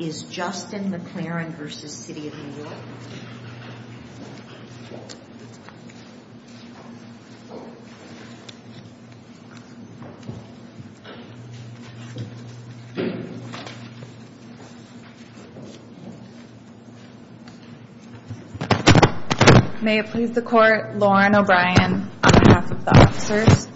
May it please the Court, Lauren O'Brien on behalf of the officers.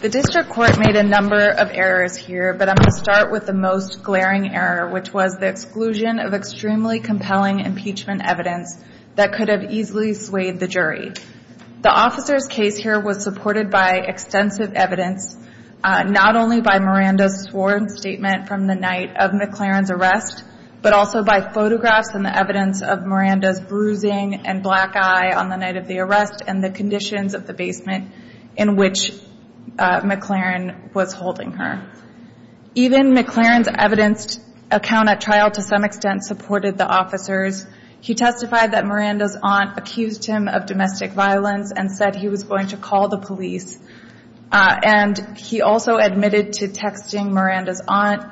The District Court made a number of errors here, but I'm going to start with the most glaring error, which was the exclusion of extremely compelling impeachment evidence that could have easily swayed the jury. The officer's case here was supported by extensive evidence, not only by Miranda's sworn statement from the night of McClarin's arrest, but also by photographs and the evidence of Miranda's bruising and black eye on the night of the arrest and the conditions of the basement in which McClarin was holding her. Even McClarin's evidence account at trial to some extent supported the officers. He testified that Miranda's aunt accused him of domestic violence and said he was going to call the police. And he also admitted to texting Miranda's aunt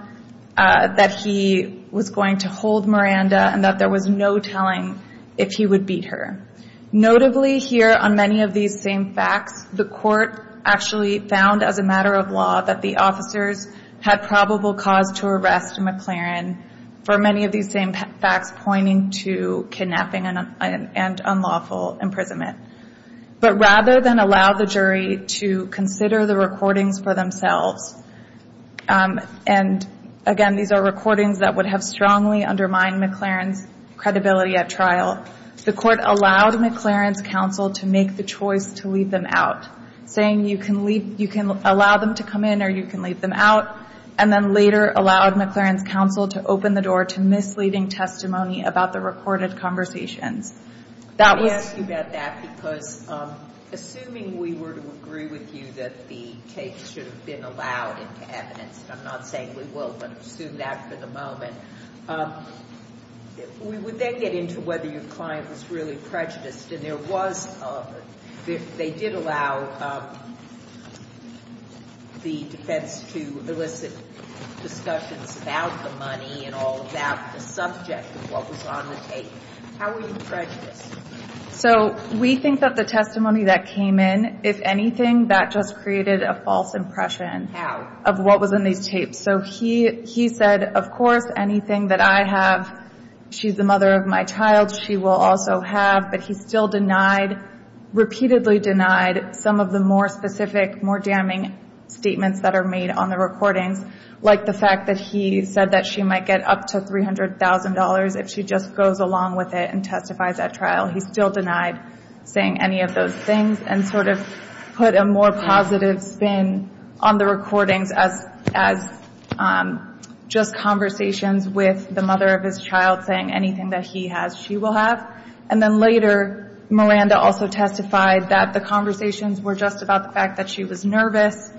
that he was going to hold Miranda and that there was no telling if he would beat her. Notably here on many of these same facts, the Court actually found as a matter of law that the officers had probable cause to arrest McClarin for many of these same facts pointing to kidnapping and unlawful imprisonment. But rather than allow the jury to consider the recordings for themselves, and again these are recordings that would have strongly undermined McClarin's credibility at trial, the Court allowed McClarin's counsel to make the choice to leave them out, saying you can allow them to come in or you can leave them out, and then later allowed McClarin's counsel to open the door to misleading testimony about the recorded conversations. That was ‑‑ I ask you about that because assuming we were to agree with you that the tapes should have been allowed into evidence, and I'm not saying we will, but assume that for the moment, would they get into whether your client was really prejudiced? And there was, they did allow the defense to elicit discussions about the money and all of that, the subject of what was on the tape. How were you prejudiced? So we think that the testimony that came in, if anything, that just created a false impression. How? Of what was in these tapes. So he said, of course, anything that I have, she's the mother of my child, she will also have, but he still repeatedly denied some of the more specific, more damning statements that are made on the recordings, like the fact that he said that she might get up to $300,000 if she just goes along with it and testifies at trial. He still denied saying any of those things and sort of put a more positive spin on the recordings as just conversations with the mother of his child saying anything that he has, she will have. And then later, Miranda also testified that the conversations were just about the fact that she was nervous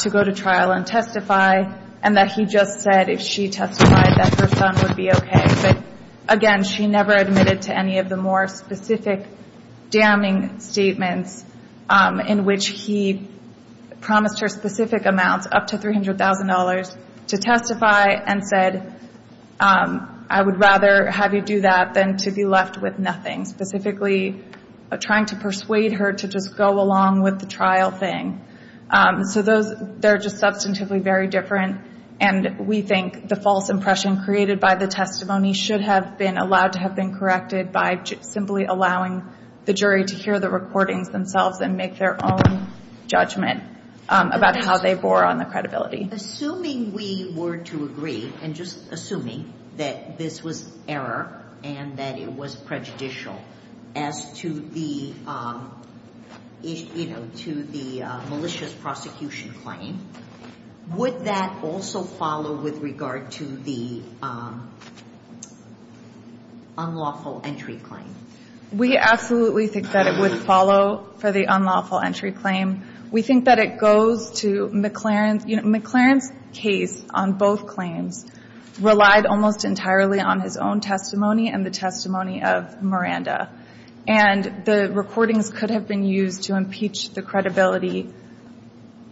to go to trial and testify, and that he just said if she testified that her son would be okay. But again, she never admitted to any of the more specific damning statements in which he promised her specific amounts, up to $300,000, to testify and said, I would rather have you do that than to be left with nothing, specifically trying to persuade her to just go along with the trial thing. So those, they're just substantively very different, and we think the false impression created by the testimony should have been allowed to have been corrected by simply allowing the jury to hear the recordings themselves and make their own judgment about how they bore on the credibility. Assuming we were to agree, and just assuming that this was error and that it was prejudicial as to the, you know, to the malicious prosecution claim, would that also follow with regard to the unlawful entry claim? We absolutely think that it would follow for the unlawful entry claim. We think that it goes to McLaren. McLaren's case on both claims relied almost entirely on his own testimony and the testimony of Miranda. And the recordings could have been used to impeach the credibility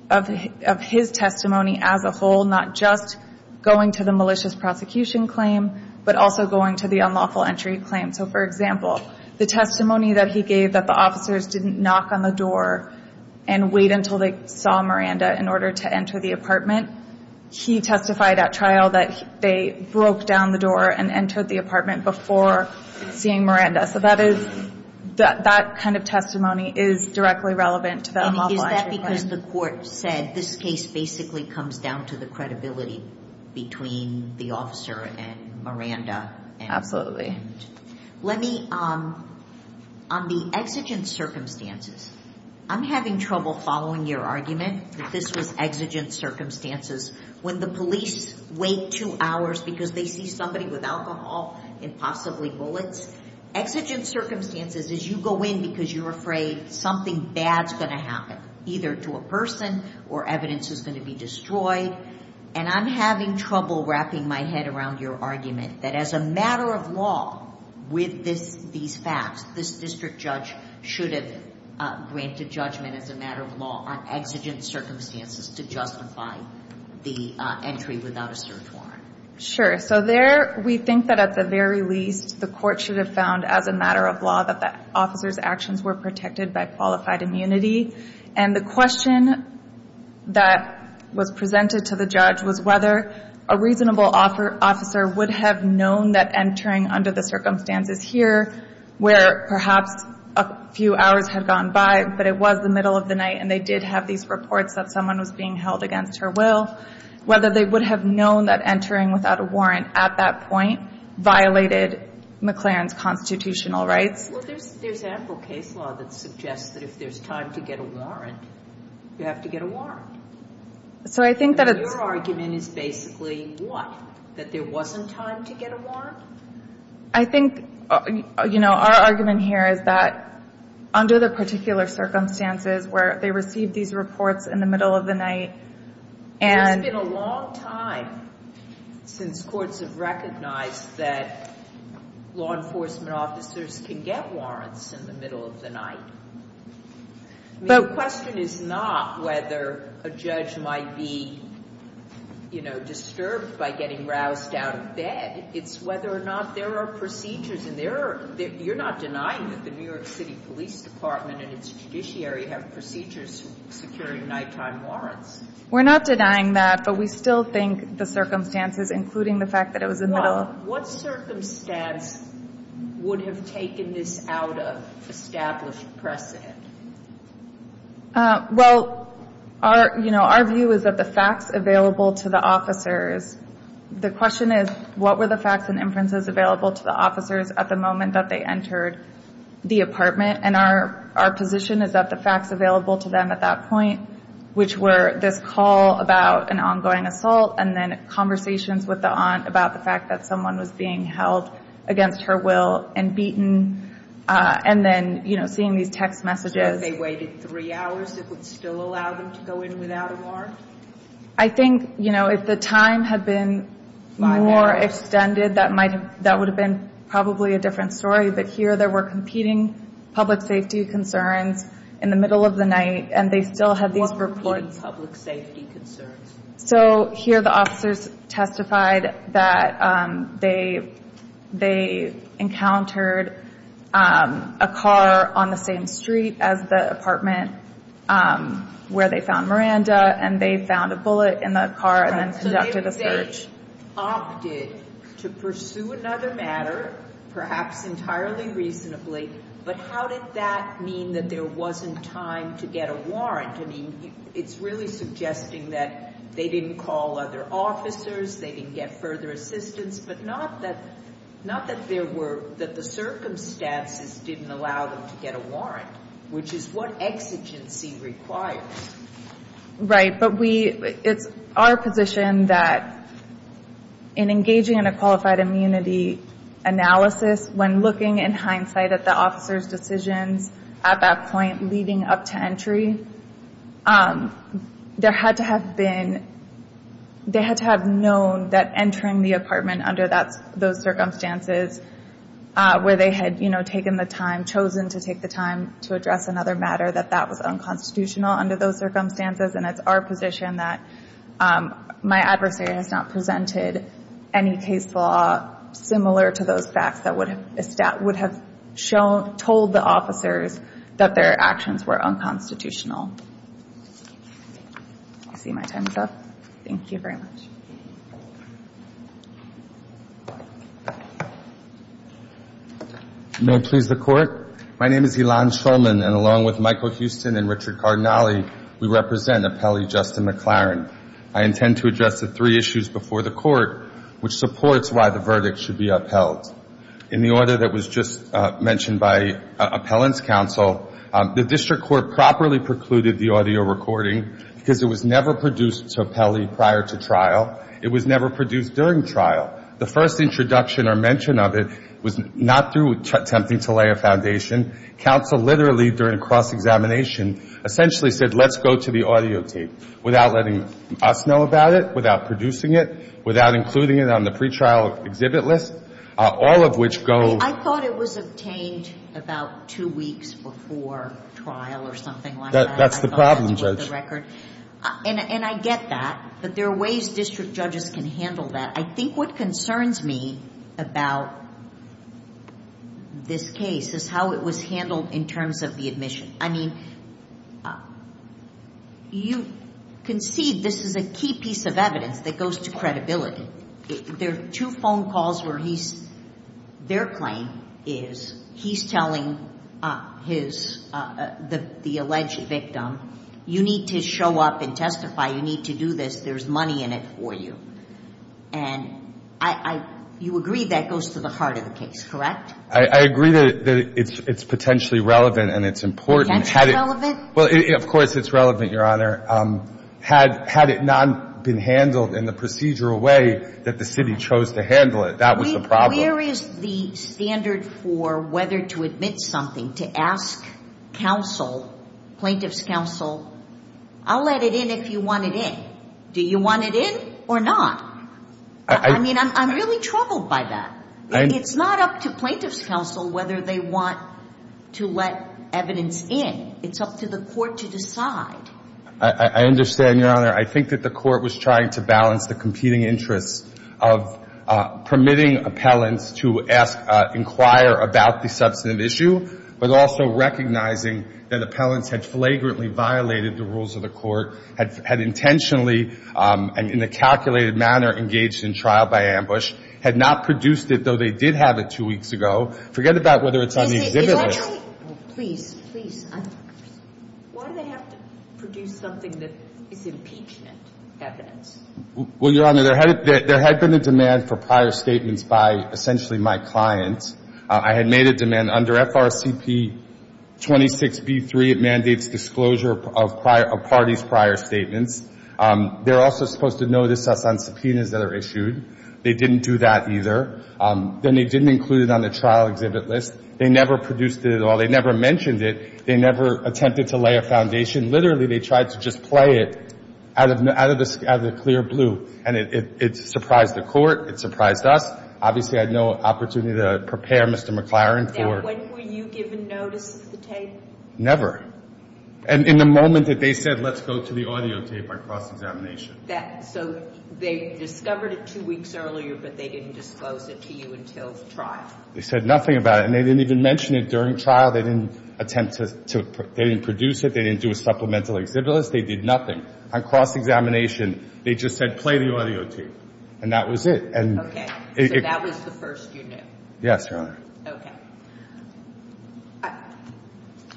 of his testimony as a whole, not just going to the malicious prosecution claim, but also going to the unlawful entry claim. So, for example, the testimony that he gave that the officers didn't knock on the door and wait until they saw Miranda in order to enter the apartment, he testified at trial that they broke down the door and entered the apartment before seeing Miranda. So that is, that kind of testimony is directly relevant to the unlawful entry claim. As the court said, this case basically comes down to the credibility between the officer and Miranda. Absolutely. Let me, on the exigent circumstances, I'm having trouble following your argument that this was exigent circumstances when the police wait two hours because they see somebody with alcohol and possibly bullets. Exigent circumstances is you go in because you're afraid something bad's going to happen, either to a person or evidence is going to be destroyed. And I'm having trouble wrapping my head around your argument that as a matter of law, with these facts, this district judge should have granted judgment as a matter of law on exigent circumstances to justify the entry without a search warrant. Sure. So there, we think that at the very least, the court should have found as a matter of law that the officer's actions were protected by qualified immunity. And the question that was presented to the judge was whether a reasonable officer would have known that entering under the circumstances here, where perhaps a few hours had gone by, but it was the middle of the night and they did have these reports that someone was being held against her will, whether they would have known that entering without a warrant at that point violated McLaren's constitutional rights. Well, there's ample case law that suggests that if there's time to get a warrant, you have to get a warrant. So I think that it's... And your argument is basically what? That there wasn't time to get a warrant? I think, you know, our argument here is that under the particular circumstances where they received these reports in the middle of the night and... It's been a long time since courts have recognized that law enforcement officers can get warrants in the middle of the night. The question is not whether a judge might be, you know, disturbed by getting roused out of bed. It's whether or not there are procedures and there are... You're not denying that the New York City Police Department and its judiciary have procedures securing nighttime warrants. We're not denying that, but we still think the circumstances, including the fact that it was in the middle... What circumstance would have taken this out of established precedent? Well, you know, our view is that the facts available to the officers... The question is, what were the facts and inferences available to the officers at the moment that they entered the apartment? And our position is that the facts available to them at that point, which were this call about an ongoing assault and then conversations with the aunt about the fact that someone was being held against her will and beaten, and then, you know, seeing these text messages... So they waited three hours that would still allow them to go in without a warrant? I think, you know, if the time had been more extended, that would have been probably a different story. But here there were competing public safety concerns in the middle of the night, and they still had these reports. What were competing public safety concerns? So here the officers testified that they encountered a car on the same street as the apartment where they found Miranda, and they found a bullet in the car and then conducted a search. The search opted to pursue another matter, perhaps entirely reasonably, but how did that mean that there wasn't time to get a warrant? I mean, it's really suggesting that they didn't call other officers, they didn't get further assistance, but not that the circumstances didn't allow them to get a warrant, which is what exigency requires. Right, but it's our position that in engaging in a qualified immunity analysis, when looking in hindsight at the officers' decisions at that point leading up to entry, there had to have been, they had to have known that entering the apartment under those circumstances where they had, you know, taken the time, chosen to take the time to address another matter, that that was unconstitutional under those circumstances, and it's our position that my adversary has not presented any case law similar to those facts that would have told the officers that their actions were unconstitutional. I see my time's up. Thank you very much. May it please the Court. My name is Elan Schulman, and along with Michael Houston and Richard Cardinale, we represent Appellee Justin McLaren. I intend to address the three issues before the Court, which supports why the verdict should be upheld. In the order that was just mentioned by Appellant's Counsel, the District Court properly precluded the audio recording because it was never produced to Appellee prior to trial. It was never produced during trial. The first introduction or mention of it was not through attempting to lay a foundation. Counsel literally, during cross-examination, essentially said, let's go to the audio tape without letting us know about it, without producing it, without including it on the pretrial exhibit list, all of which go. I thought it was obtained about two weeks before trial or something like that. That's the problem, Judge. And I get that, but there are ways District judges can handle that. I think what concerns me about this case is how it was handled in terms of the admission. I mean, you concede this is a key piece of evidence that goes to credibility. There are two phone calls where he's – their claim is he's telling his – the alleged victim, you need to show up and testify, you need to do this, there's money in it for you. And I – you agree that goes to the heart of the case, correct? I agree that it's potentially relevant and it's important. Well, of course it's relevant, Your Honor. Had it not been handled in the procedural way that the City chose to handle it, that was the problem. Where is the standard for whether to admit something, to ask counsel, plaintiff's counsel, I'll let it in if you want it in. Do you want it in or not? I mean, I'm really troubled by that. It's not up to plaintiff's counsel whether they want to let evidence in. It's up to the Court to decide. I understand, Your Honor. I think that the Court was trying to balance the competing interests of permitting appellants to ask – inquire about the substantive issue, but also recognizing that appellants had flagrantly violated the rules of the Court, had intentionally and in a calculated manner engaged in trial by ambush, had not produced it, though they did have it two weeks ago. Forget about whether it's on the exhibit list. Please, please. Why do they have to produce something that is impeachment evidence? Well, Your Honor, there had been a demand for prior statements by essentially my client. I had made a demand under FRCP 26B3. It mandates disclosure of parties' prior statements. They're also supposed to notice us on subpoenas that are issued. They didn't do that either. Then they didn't include it on the trial exhibit list. They never produced it at all. They never mentioned it. They never attempted to lay a foundation. Literally, they tried to just play it out of the clear blue. And it surprised the Court. It surprised us. Obviously, I had no opportunity to prepare Mr. McLaren for – And when were you given notice of the tape? Never. And in the moment that they said, let's go to the audio tape, I crossed examination. They just said, play the audio tape. And that was it. Okay. So that was the first you knew? Yes, Your Honor. Okay.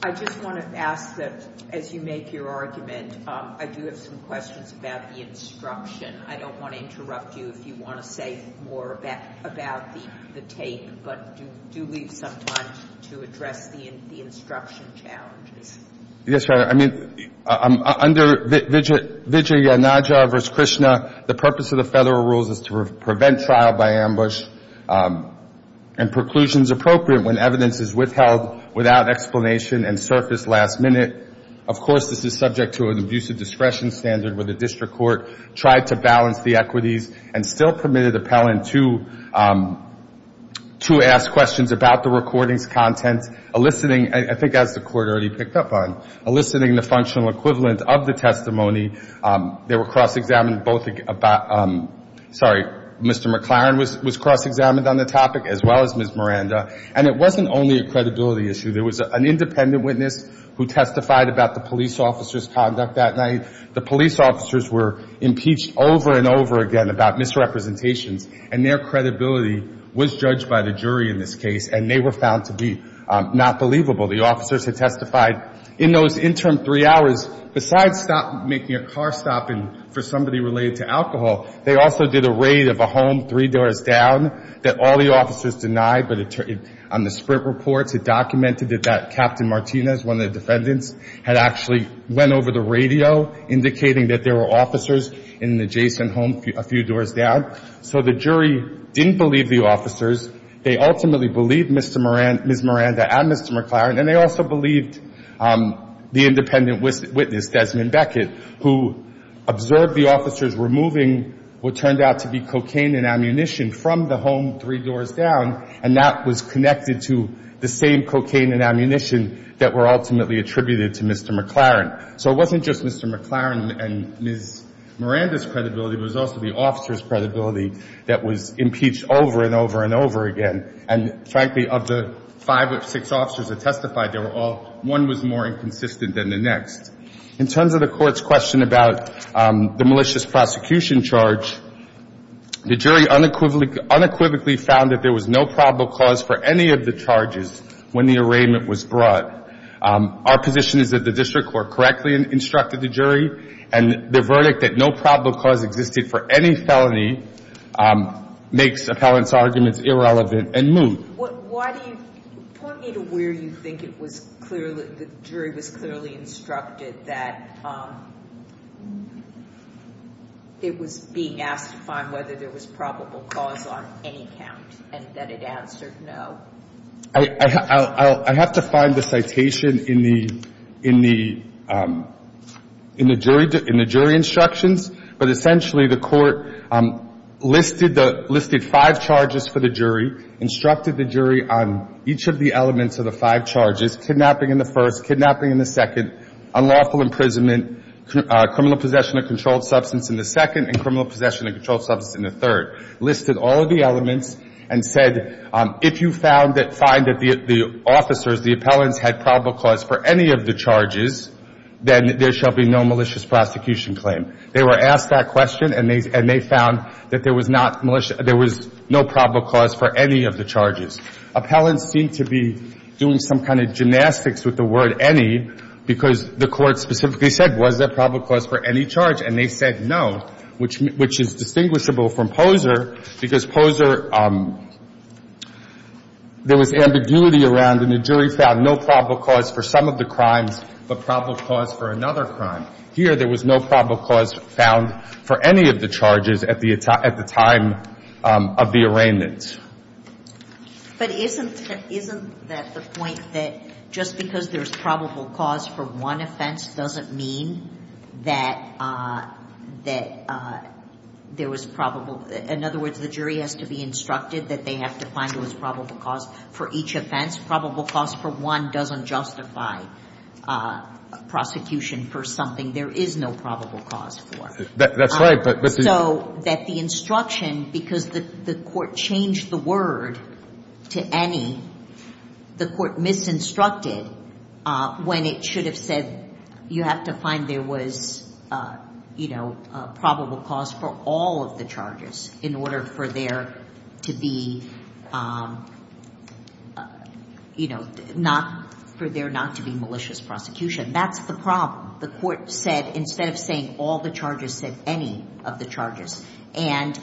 I just want to ask that as you make your argument, I do have some questions about the instruction. I don't want to interrupt you if you want to say more about the tape, but do leave some time to address the instruction challenges. Yes, Your Honor. I mean, under Vijayanagara v. Krishna, the purpose of the federal rules is to prevent trial by ambush and preclusions appropriate when evidence is withheld without explanation and surfaced last minute. Of course, this is subject to an abusive discretion standard where the district court tried to balance the equities and still permitted appellant to ask questions about the recording's content, eliciting – I think as the Court already picked up on – eliciting the functional equivalent of the testimony. They were cross-examined both – sorry, Mr. McLaren was cross-examined on the topic as well as Ms. Miranda. And it wasn't only a case of police officers' conduct that night. The police officers were impeached over and over again about misrepresentations, and their credibility was judged by the jury in this case, and they were found to be not believable. The officers had testified in those interim three hours. Besides making a car stop for somebody related to alcohol, they were not denied. But on the sprint reports, it documented that Captain Martinez, one of the defendants, had actually went over the radio indicating that there were officers in an adjacent home a few doors down. So the jury didn't believe the officers. They ultimately believed Ms. Miranda and Mr. McLaren, and they also believed the independent and that was connected to the same cocaine and ammunition that were ultimately attributed to Mr. McLaren. So it wasn't just Mr. McLaren and Ms. Miranda's credibility. It was also the officers' credibility that was impeached over and over and over again. And frankly, of the five or six officers that testified, they were all – one was more than likely to have been a defendant. The other was more than likely to have been a defendant. And so the jury, in the case of the malicious prosecution charge, the jury unequivocally found that there was no probable cause for any of the charges when the arraignment was brought. Our position is that the district court correctly instructed the jury, and the jury was clearly instructed that it was being asked to find whether there was probable cause on any count, and that it answered no. I have to find the citation in the jury instructions, but essentially the court listed five charges for the jury, instructed the jury on each of the elements of the five charges, kidnapping in the first, kidnapping in the second, unlawful imprisonment, criminal possession of controlled substance in the second, and criminal possession of controlled substance in the third. Listed all of the elements and said, if you find that the officers, the appellants, had probable cause for any of the charges, then there shall be no malicious prosecution claim. They were asked that question, and they found that there was not no probable cause for any of the charges. Appellants seemed to be doing some kind of gymnastics with the word any, because the court specifically said, was there probable cause for any charge? And they said no, which is distinguishable from Poser, because Poser, there was ambiguity around, and the jury found no probable cause for some of the crimes, but probable cause for another crime. Here, there was no probable cause found for any of the charges at the time of the arraignment. But isn't that the point, that just because there's probable cause for one offense doesn't mean that there was probable – in other words, the jury has to be instructed that they have to find what's probable cause for each offense? Probable cause for one doesn't justify prosecution for something there is no probable cause for. That's right. So that the instruction, because the court changed the word to any, the court misinstructed when it should have said you have to find there was probable cause for all of the charges in order for there not to be malicious prosecution. That's the problem. The court said, instead of saying all the charges, said any of the charges. And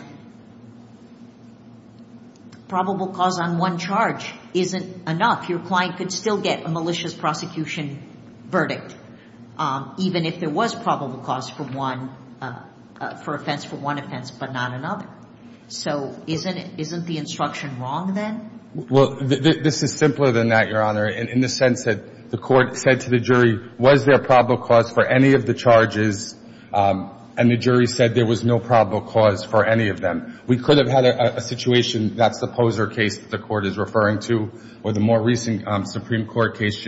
probable cause on one charge isn't enough. Your client could still get a malicious prosecution verdict, even if there was probable cause for one offense, but not another. So isn't the instruction wrong then? Well, this is simpler than that, Your Honor, in the sense that the court said to the jury, was there probable cause for any of the charges, and the jury said there was no probable cause for any of them. We could have had a situation, that's the Poser case the court is referring to, or the more recent Supreme Court case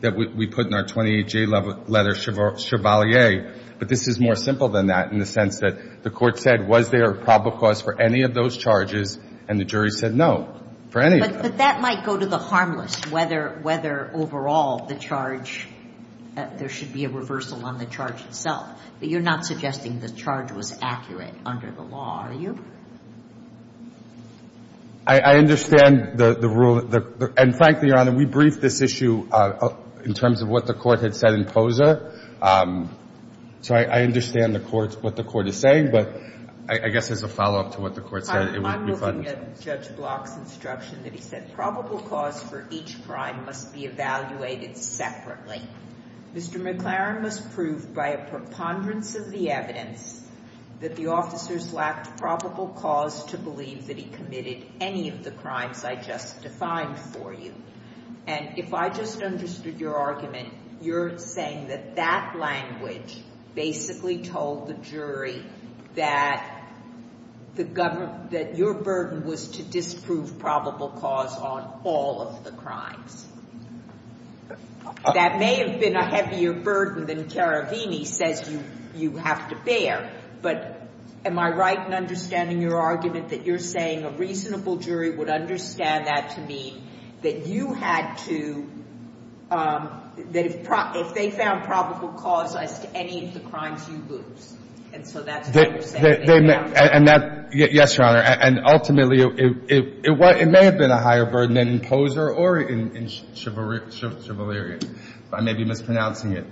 that we put in our 28-J letter, Chevalier, but this is more simple than that in the sense that the court said, was there probable cause for any of those charges, and the jury said no, for any of them. But that might go to the harmless, whether overall the charge, there should be a reversal on the charge itself, but you're not suggesting the charge was accurate under the law, are you? I understand the rule, and frankly, Your Honor, we briefed this issue in terms of what the court had said in Poser, so I understand the court, what the court is saying, but I guess as a follow-up to what the court said, it would be fine. I'm looking at Judge Block's instruction that he said probable cause for each crime must be evaluated separately. Mr. McLaren was proved by a preponderance of the evidence that the officers lacked probable cause to believe that he committed any of the crimes I just defined for you. And if I just understood your argument, you're saying that that language basically told the jury that your burden was to bear, but am I right in understanding your argument that you're saying a reasonable jury would understand that to mean that you had to, that if they found probable cause as to any of the crimes you lose, and so that's what you're saying. And that, yes, Your Honor, and ultimately, it may have been a higher burden than in Poser or in Chivalry, if I may be mispronouncing it.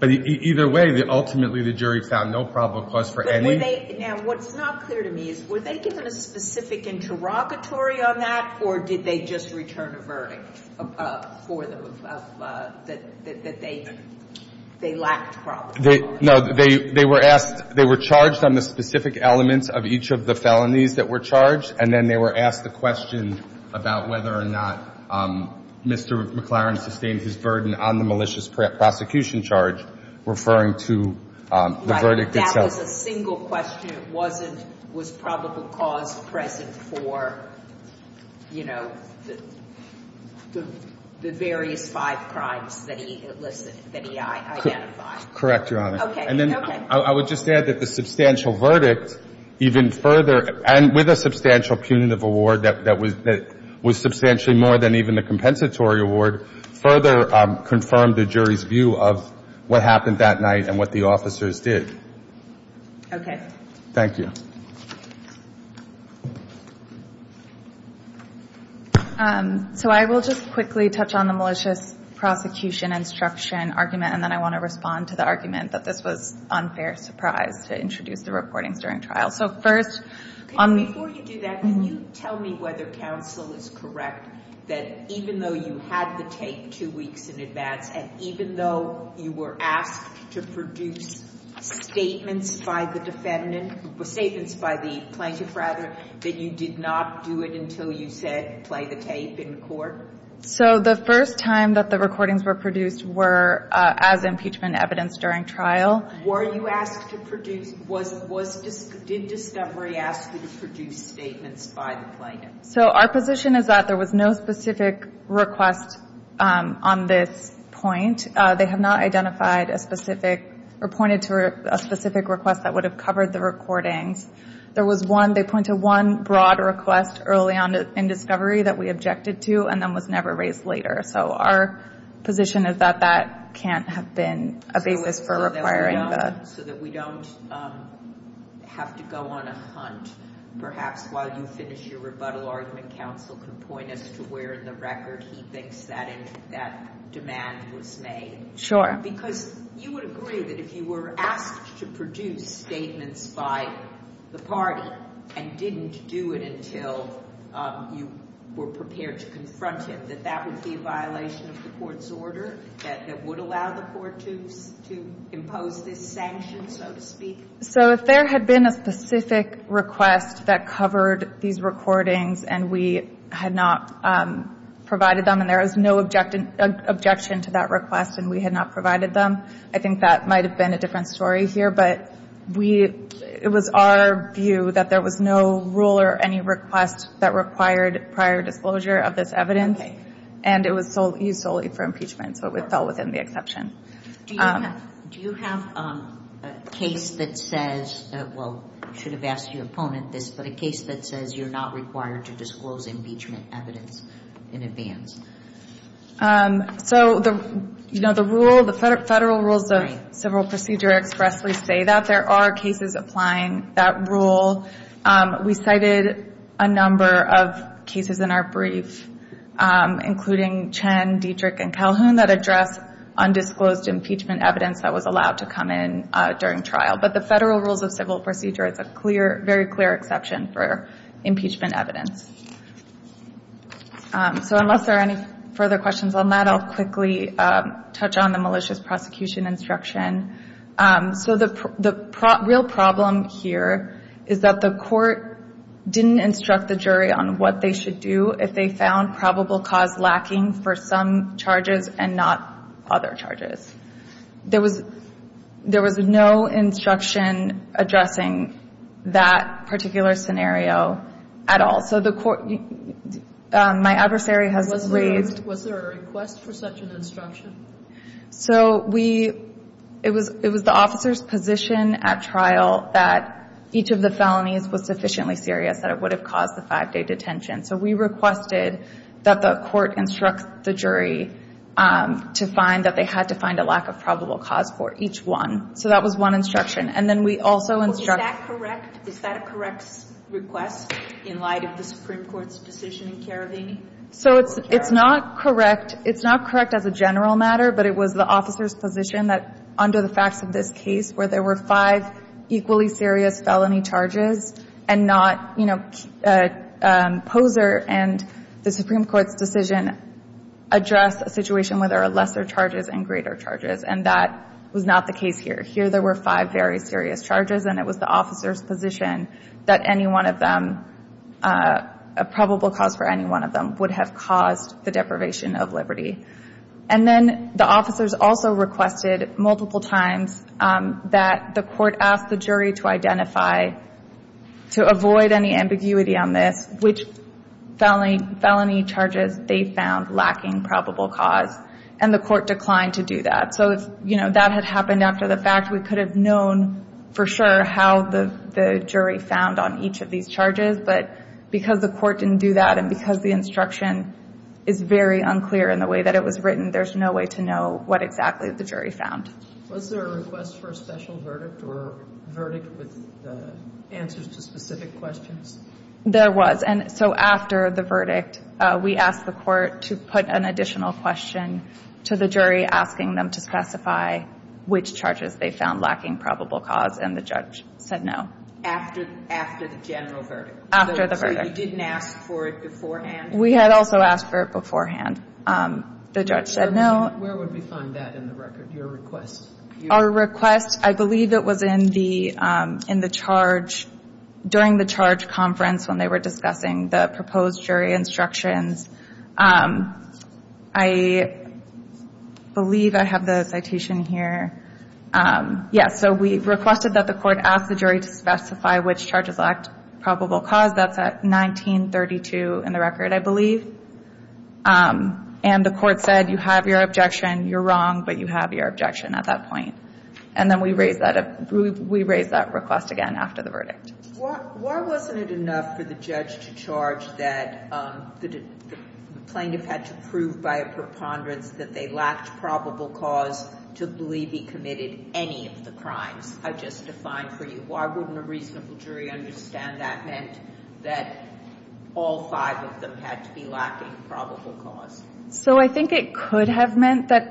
But either way, ultimately the jury found no probable cause for any. Now, what's not clear to me is, were they given a specific interrogatory on that, or did they just return a verdict for them that they lacked probable cause? No, they were asked, they were charged on the specific elements of each of the felonies that were charged, and then they were asked the question about whether or not Mr. McLaren sustained his burden on the malicious prosecution charge, referring to the verdict itself. That was a single question? It wasn't, was probable cause present for, you know, the various five crimes that he listed, that he identified? Correct, Your Honor. Okay. Okay. I would just add that the substantial verdict even further, and with a substantial punitive award that was substantially more than even the compensatory award, further confirmed the jury's view of what happened that night and what the officers did. Okay. Thank you. So I will just quickly touch on the malicious prosecution instruction argument, and then I want to respond to the argument that this was unfair surprise to introduce the recordings during trial. So first — Before you do that, can you tell me whether counsel is correct that even though you had the tape two weeks in advance, and even though you were asked to produce statements by the defendant, statements by the plaintiff rather, that you did not do it until you said, play the tape in court? So the first time that the recordings were produced were as impeachment evidence during trial. Were you asked to produce — did discovery ask you to produce statements by the plaintiff? So our position is that there was no specific request on this point. They have not identified a specific or pointed to a specific request that would have covered the recordings. There was one — they pointed to one broad request early on in discovery that we objected to, and then was never raised later. So our position is that that can't have been a basis for requiring the — So that we don't have to go on a hunt. Perhaps while you finish your rebuttal argument, counsel can point us to where in the record he thinks that demand was made. Sure. Because you would agree that if you were asked to produce statements by the party and didn't do it until you were prepared to confront him, that that would be a violation of the court's order, that it would allow the court to impose this sanction, so to speak? So if there had been a specific request that covered these recordings and we had not provided them and there was no objection to that request and we had not provided them, I think that might have been a different story here. But we — it was our view that there was no rule or any request that required prior disclosure of this evidence. Okay. And it was used solely for impeachment, so it fell within the exception. Do you have a case that says — well, I should have asked your opponent this, but a case that says you're not required to disclose impeachment evidence in advance? So, you know, the rule — the federal rules of civil procedure expressly say that. There are cases applying that rule. We cited a number of cases in our brief, including Chen, Dietrich, and Calhoun, that address undisclosed impeachment evidence that was allowed to come in during trial. But the federal rules of civil procedure, it's a clear — very clear exception for impeachment evidence. So unless there are any further questions on that, I'll quickly touch on the malicious prosecution instruction. So the real problem here is that the court didn't instruct the jury on what they should do if they found probable cause lacking for some charges and not other charges. There was no instruction addressing that particular scenario at all. So the court — my adversary has raised — Was there a request for such an instruction? So we — it was the officer's position at trial that each of the felonies was sufficiently serious that it would have caused the five-day detention. So we requested that the court instruct the jury to find that they had to find a lack of probable cause for each one. So that was one instruction. And then we also instructed — Well, is that correct? Is that a correct request in light of the Supreme Court's decision in Karavini? So it's not correct — it's not correct as a general matter, but it was the officer's position that under the facts of this case, where there were five equally serious felony charges, and not — you know, Poser and the Supreme Court's decision address a situation where there are lesser charges and greater charges, and that was not the case here. Here there were five very serious charges, and it was the officer's position that any one of them — a probable cause for any one of them would have caused the deprivation of liberty. And then the officers also requested multiple times that the court ask the jury to identify, to avoid any ambiguity on this, which felony charges they found lacking probable cause. And the court declined to do that. So, you know, that had happened after the fact. We could have known for sure how the jury found on each of these charges, but because the court didn't do that and because the instruction is very unclear in the way that it was written, there's no way to know what exactly the jury found. Was there a request for a special verdict or verdict with answers to specific questions? There was. And so after the verdict, we asked the court to put an additional question to the jury, asking them to specify which charges they found lacking probable cause, and the judge said no. After the general verdict? After the verdict. You didn't ask for it beforehand? We had also asked for it beforehand. The judge said no. Where would we find that in the record, your request? Our request, I believe it was in the charge — during the charge conference when they were discussing the proposed jury instructions. I believe I have the citation here. Yes. So we requested that the court ask the jury to specify which charges lacked probable cause. That's at 1932 in the record, I believe. And the court said you have your objection, you're wrong, but you have your objection at that point. And then we raised that request again after the verdict. Why wasn't it enough for the judge to charge that the plaintiff had to prove by a preponderance that they lacked probable cause to believe he committed any of the crimes I just defined for you? Why wouldn't a reasonable jury understand that meant that all five of them had to be lacking probable cause? So I think it could have meant that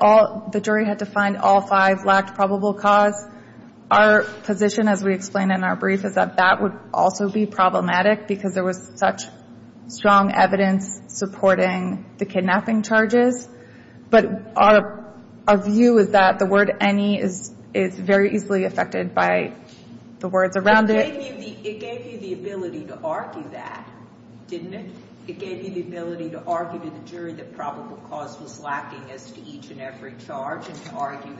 the jury had to find all five lacked probable cause. Our position, as we explained in our brief, is that that would also be problematic because there was such strong evidence supporting the kidnapping charges. But our view is that the word any is very easily affected by the words around it. It gave you the ability to argue that, didn't it? It gave you the ability to argue to the jury that probable cause was lacking as to each and every charge and to argue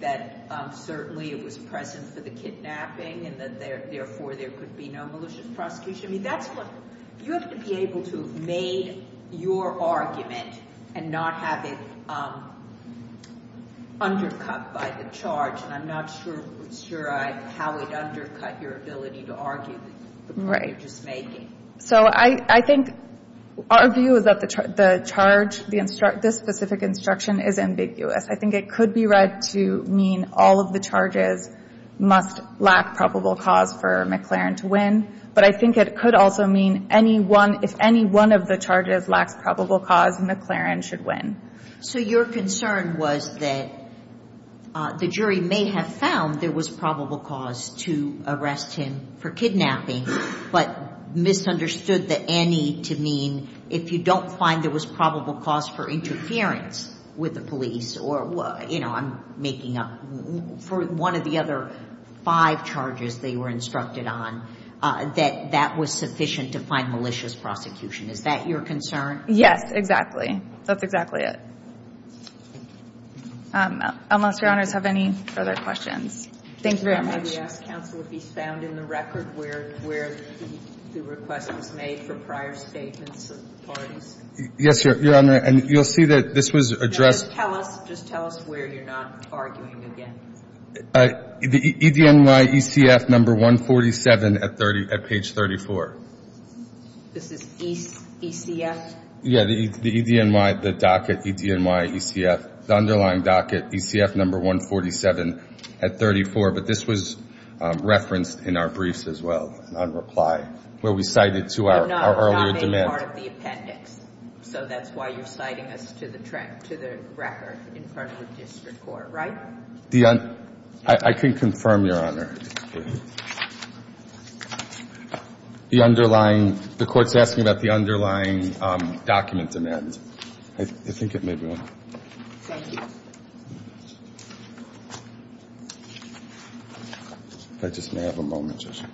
that certainly it was present for the kidnapping and that therefore there could be no malicious prosecution. I mean, that's what you have to be able to have made your argument and not have it undercut by the charge. And I'm not sure how it undercut your ability to argue the point you're just making. So I think our view is that the charge, this specific instruction is ambiguous. I think it could be read to mean all of the charges must lack probable cause for McLaren to win. But I think it could also mean if any one of the charges lacks probable cause, McLaren should win. So your concern was that the jury may have found there was probable cause to arrest him for kidnapping but misunderstood the any to mean if you don't find there was probable cause for interference with the police or, you know, I'm making up for one of the other five charges they were instructed on, that that was sufficient to find malicious prosecution. Is that your concern? Yes, exactly. That's exactly it. Unless Your Honors have any further questions. Thank you very much. Can I ask counsel if he's found in the record where the request was made for prior statements of parties? Yes, Your Honor. And you'll see that this was addressed. Just tell us where you're not arguing again. The EDNY ECF number 147 at page 34. This is ECF? Yeah, the EDNY, the docket EDNY ECF, the underlying docket, ECF number 147 at 34. But this was referenced in our briefs as well, on reply, where we cited to our earlier demand. That's part of the appendix. So that's why you're citing us to the track, to the record in front of the district court, right? I can confirm, Your Honor. The underlying, the court's asking about the underlying document demand. I think it may be on. Thank you. I just may have a moment, Your Honor.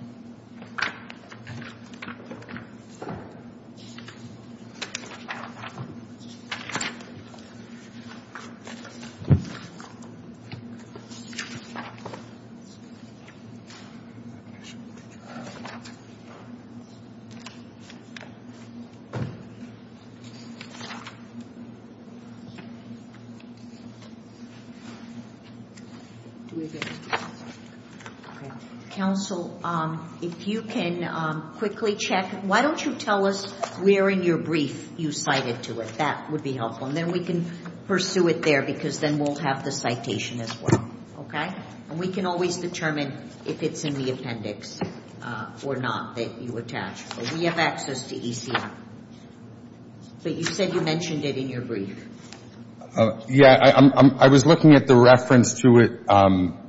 Counsel, if you can quickly check, why don't you tell us where in your brief you cited to it? That would be helpful. And then we can pursue it there because then we'll have the citation as well. Okay? And we can always determine if it's in the appendix or not that you attach. But we have access to ECF. But you said you mentioned it in your brief. Yeah. I was looking at the reference to it.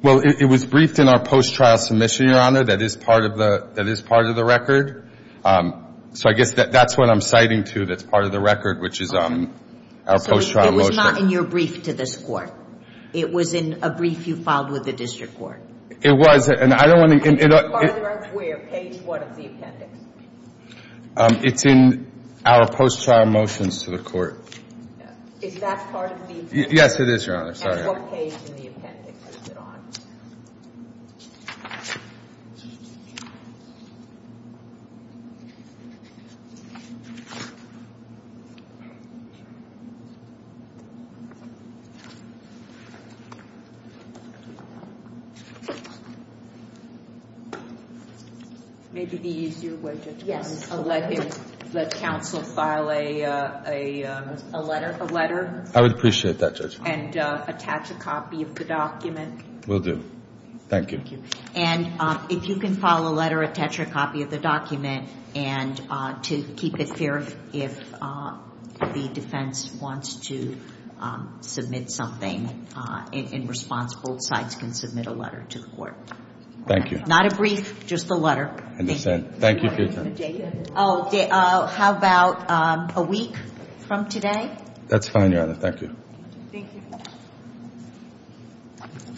Well, it was briefed in our post-trial submission, Your Honor. That is part of the record. So I guess that's what I'm citing to that's part of the record, which is our post-trial motion. So it was not in your brief to this court. It was in a brief you filed with the district court. It was. And I don't want to — It's part of the record. Where? Page 1 of the appendix. It's in our post-trial motions to the court. Is that part of the appendix? Yes, it is, Your Honor. Sorry. And what page in the appendix is it on? Page 1 of the appendix. Maybe the easier way, Judge. Yes. Let counsel file a letter. I would appreciate that, Judge. And attach a copy of the document. Will do. Thank you. And if you can file a letter, attach a copy of the document. And to keep it fair, if the defense wants to submit something in response, both sides can submit a letter to the court. Thank you. Not a brief, just a letter. I understand. Thank you for your time. How about a week from today? That's fine, Your Honor. Thank you. Thank you.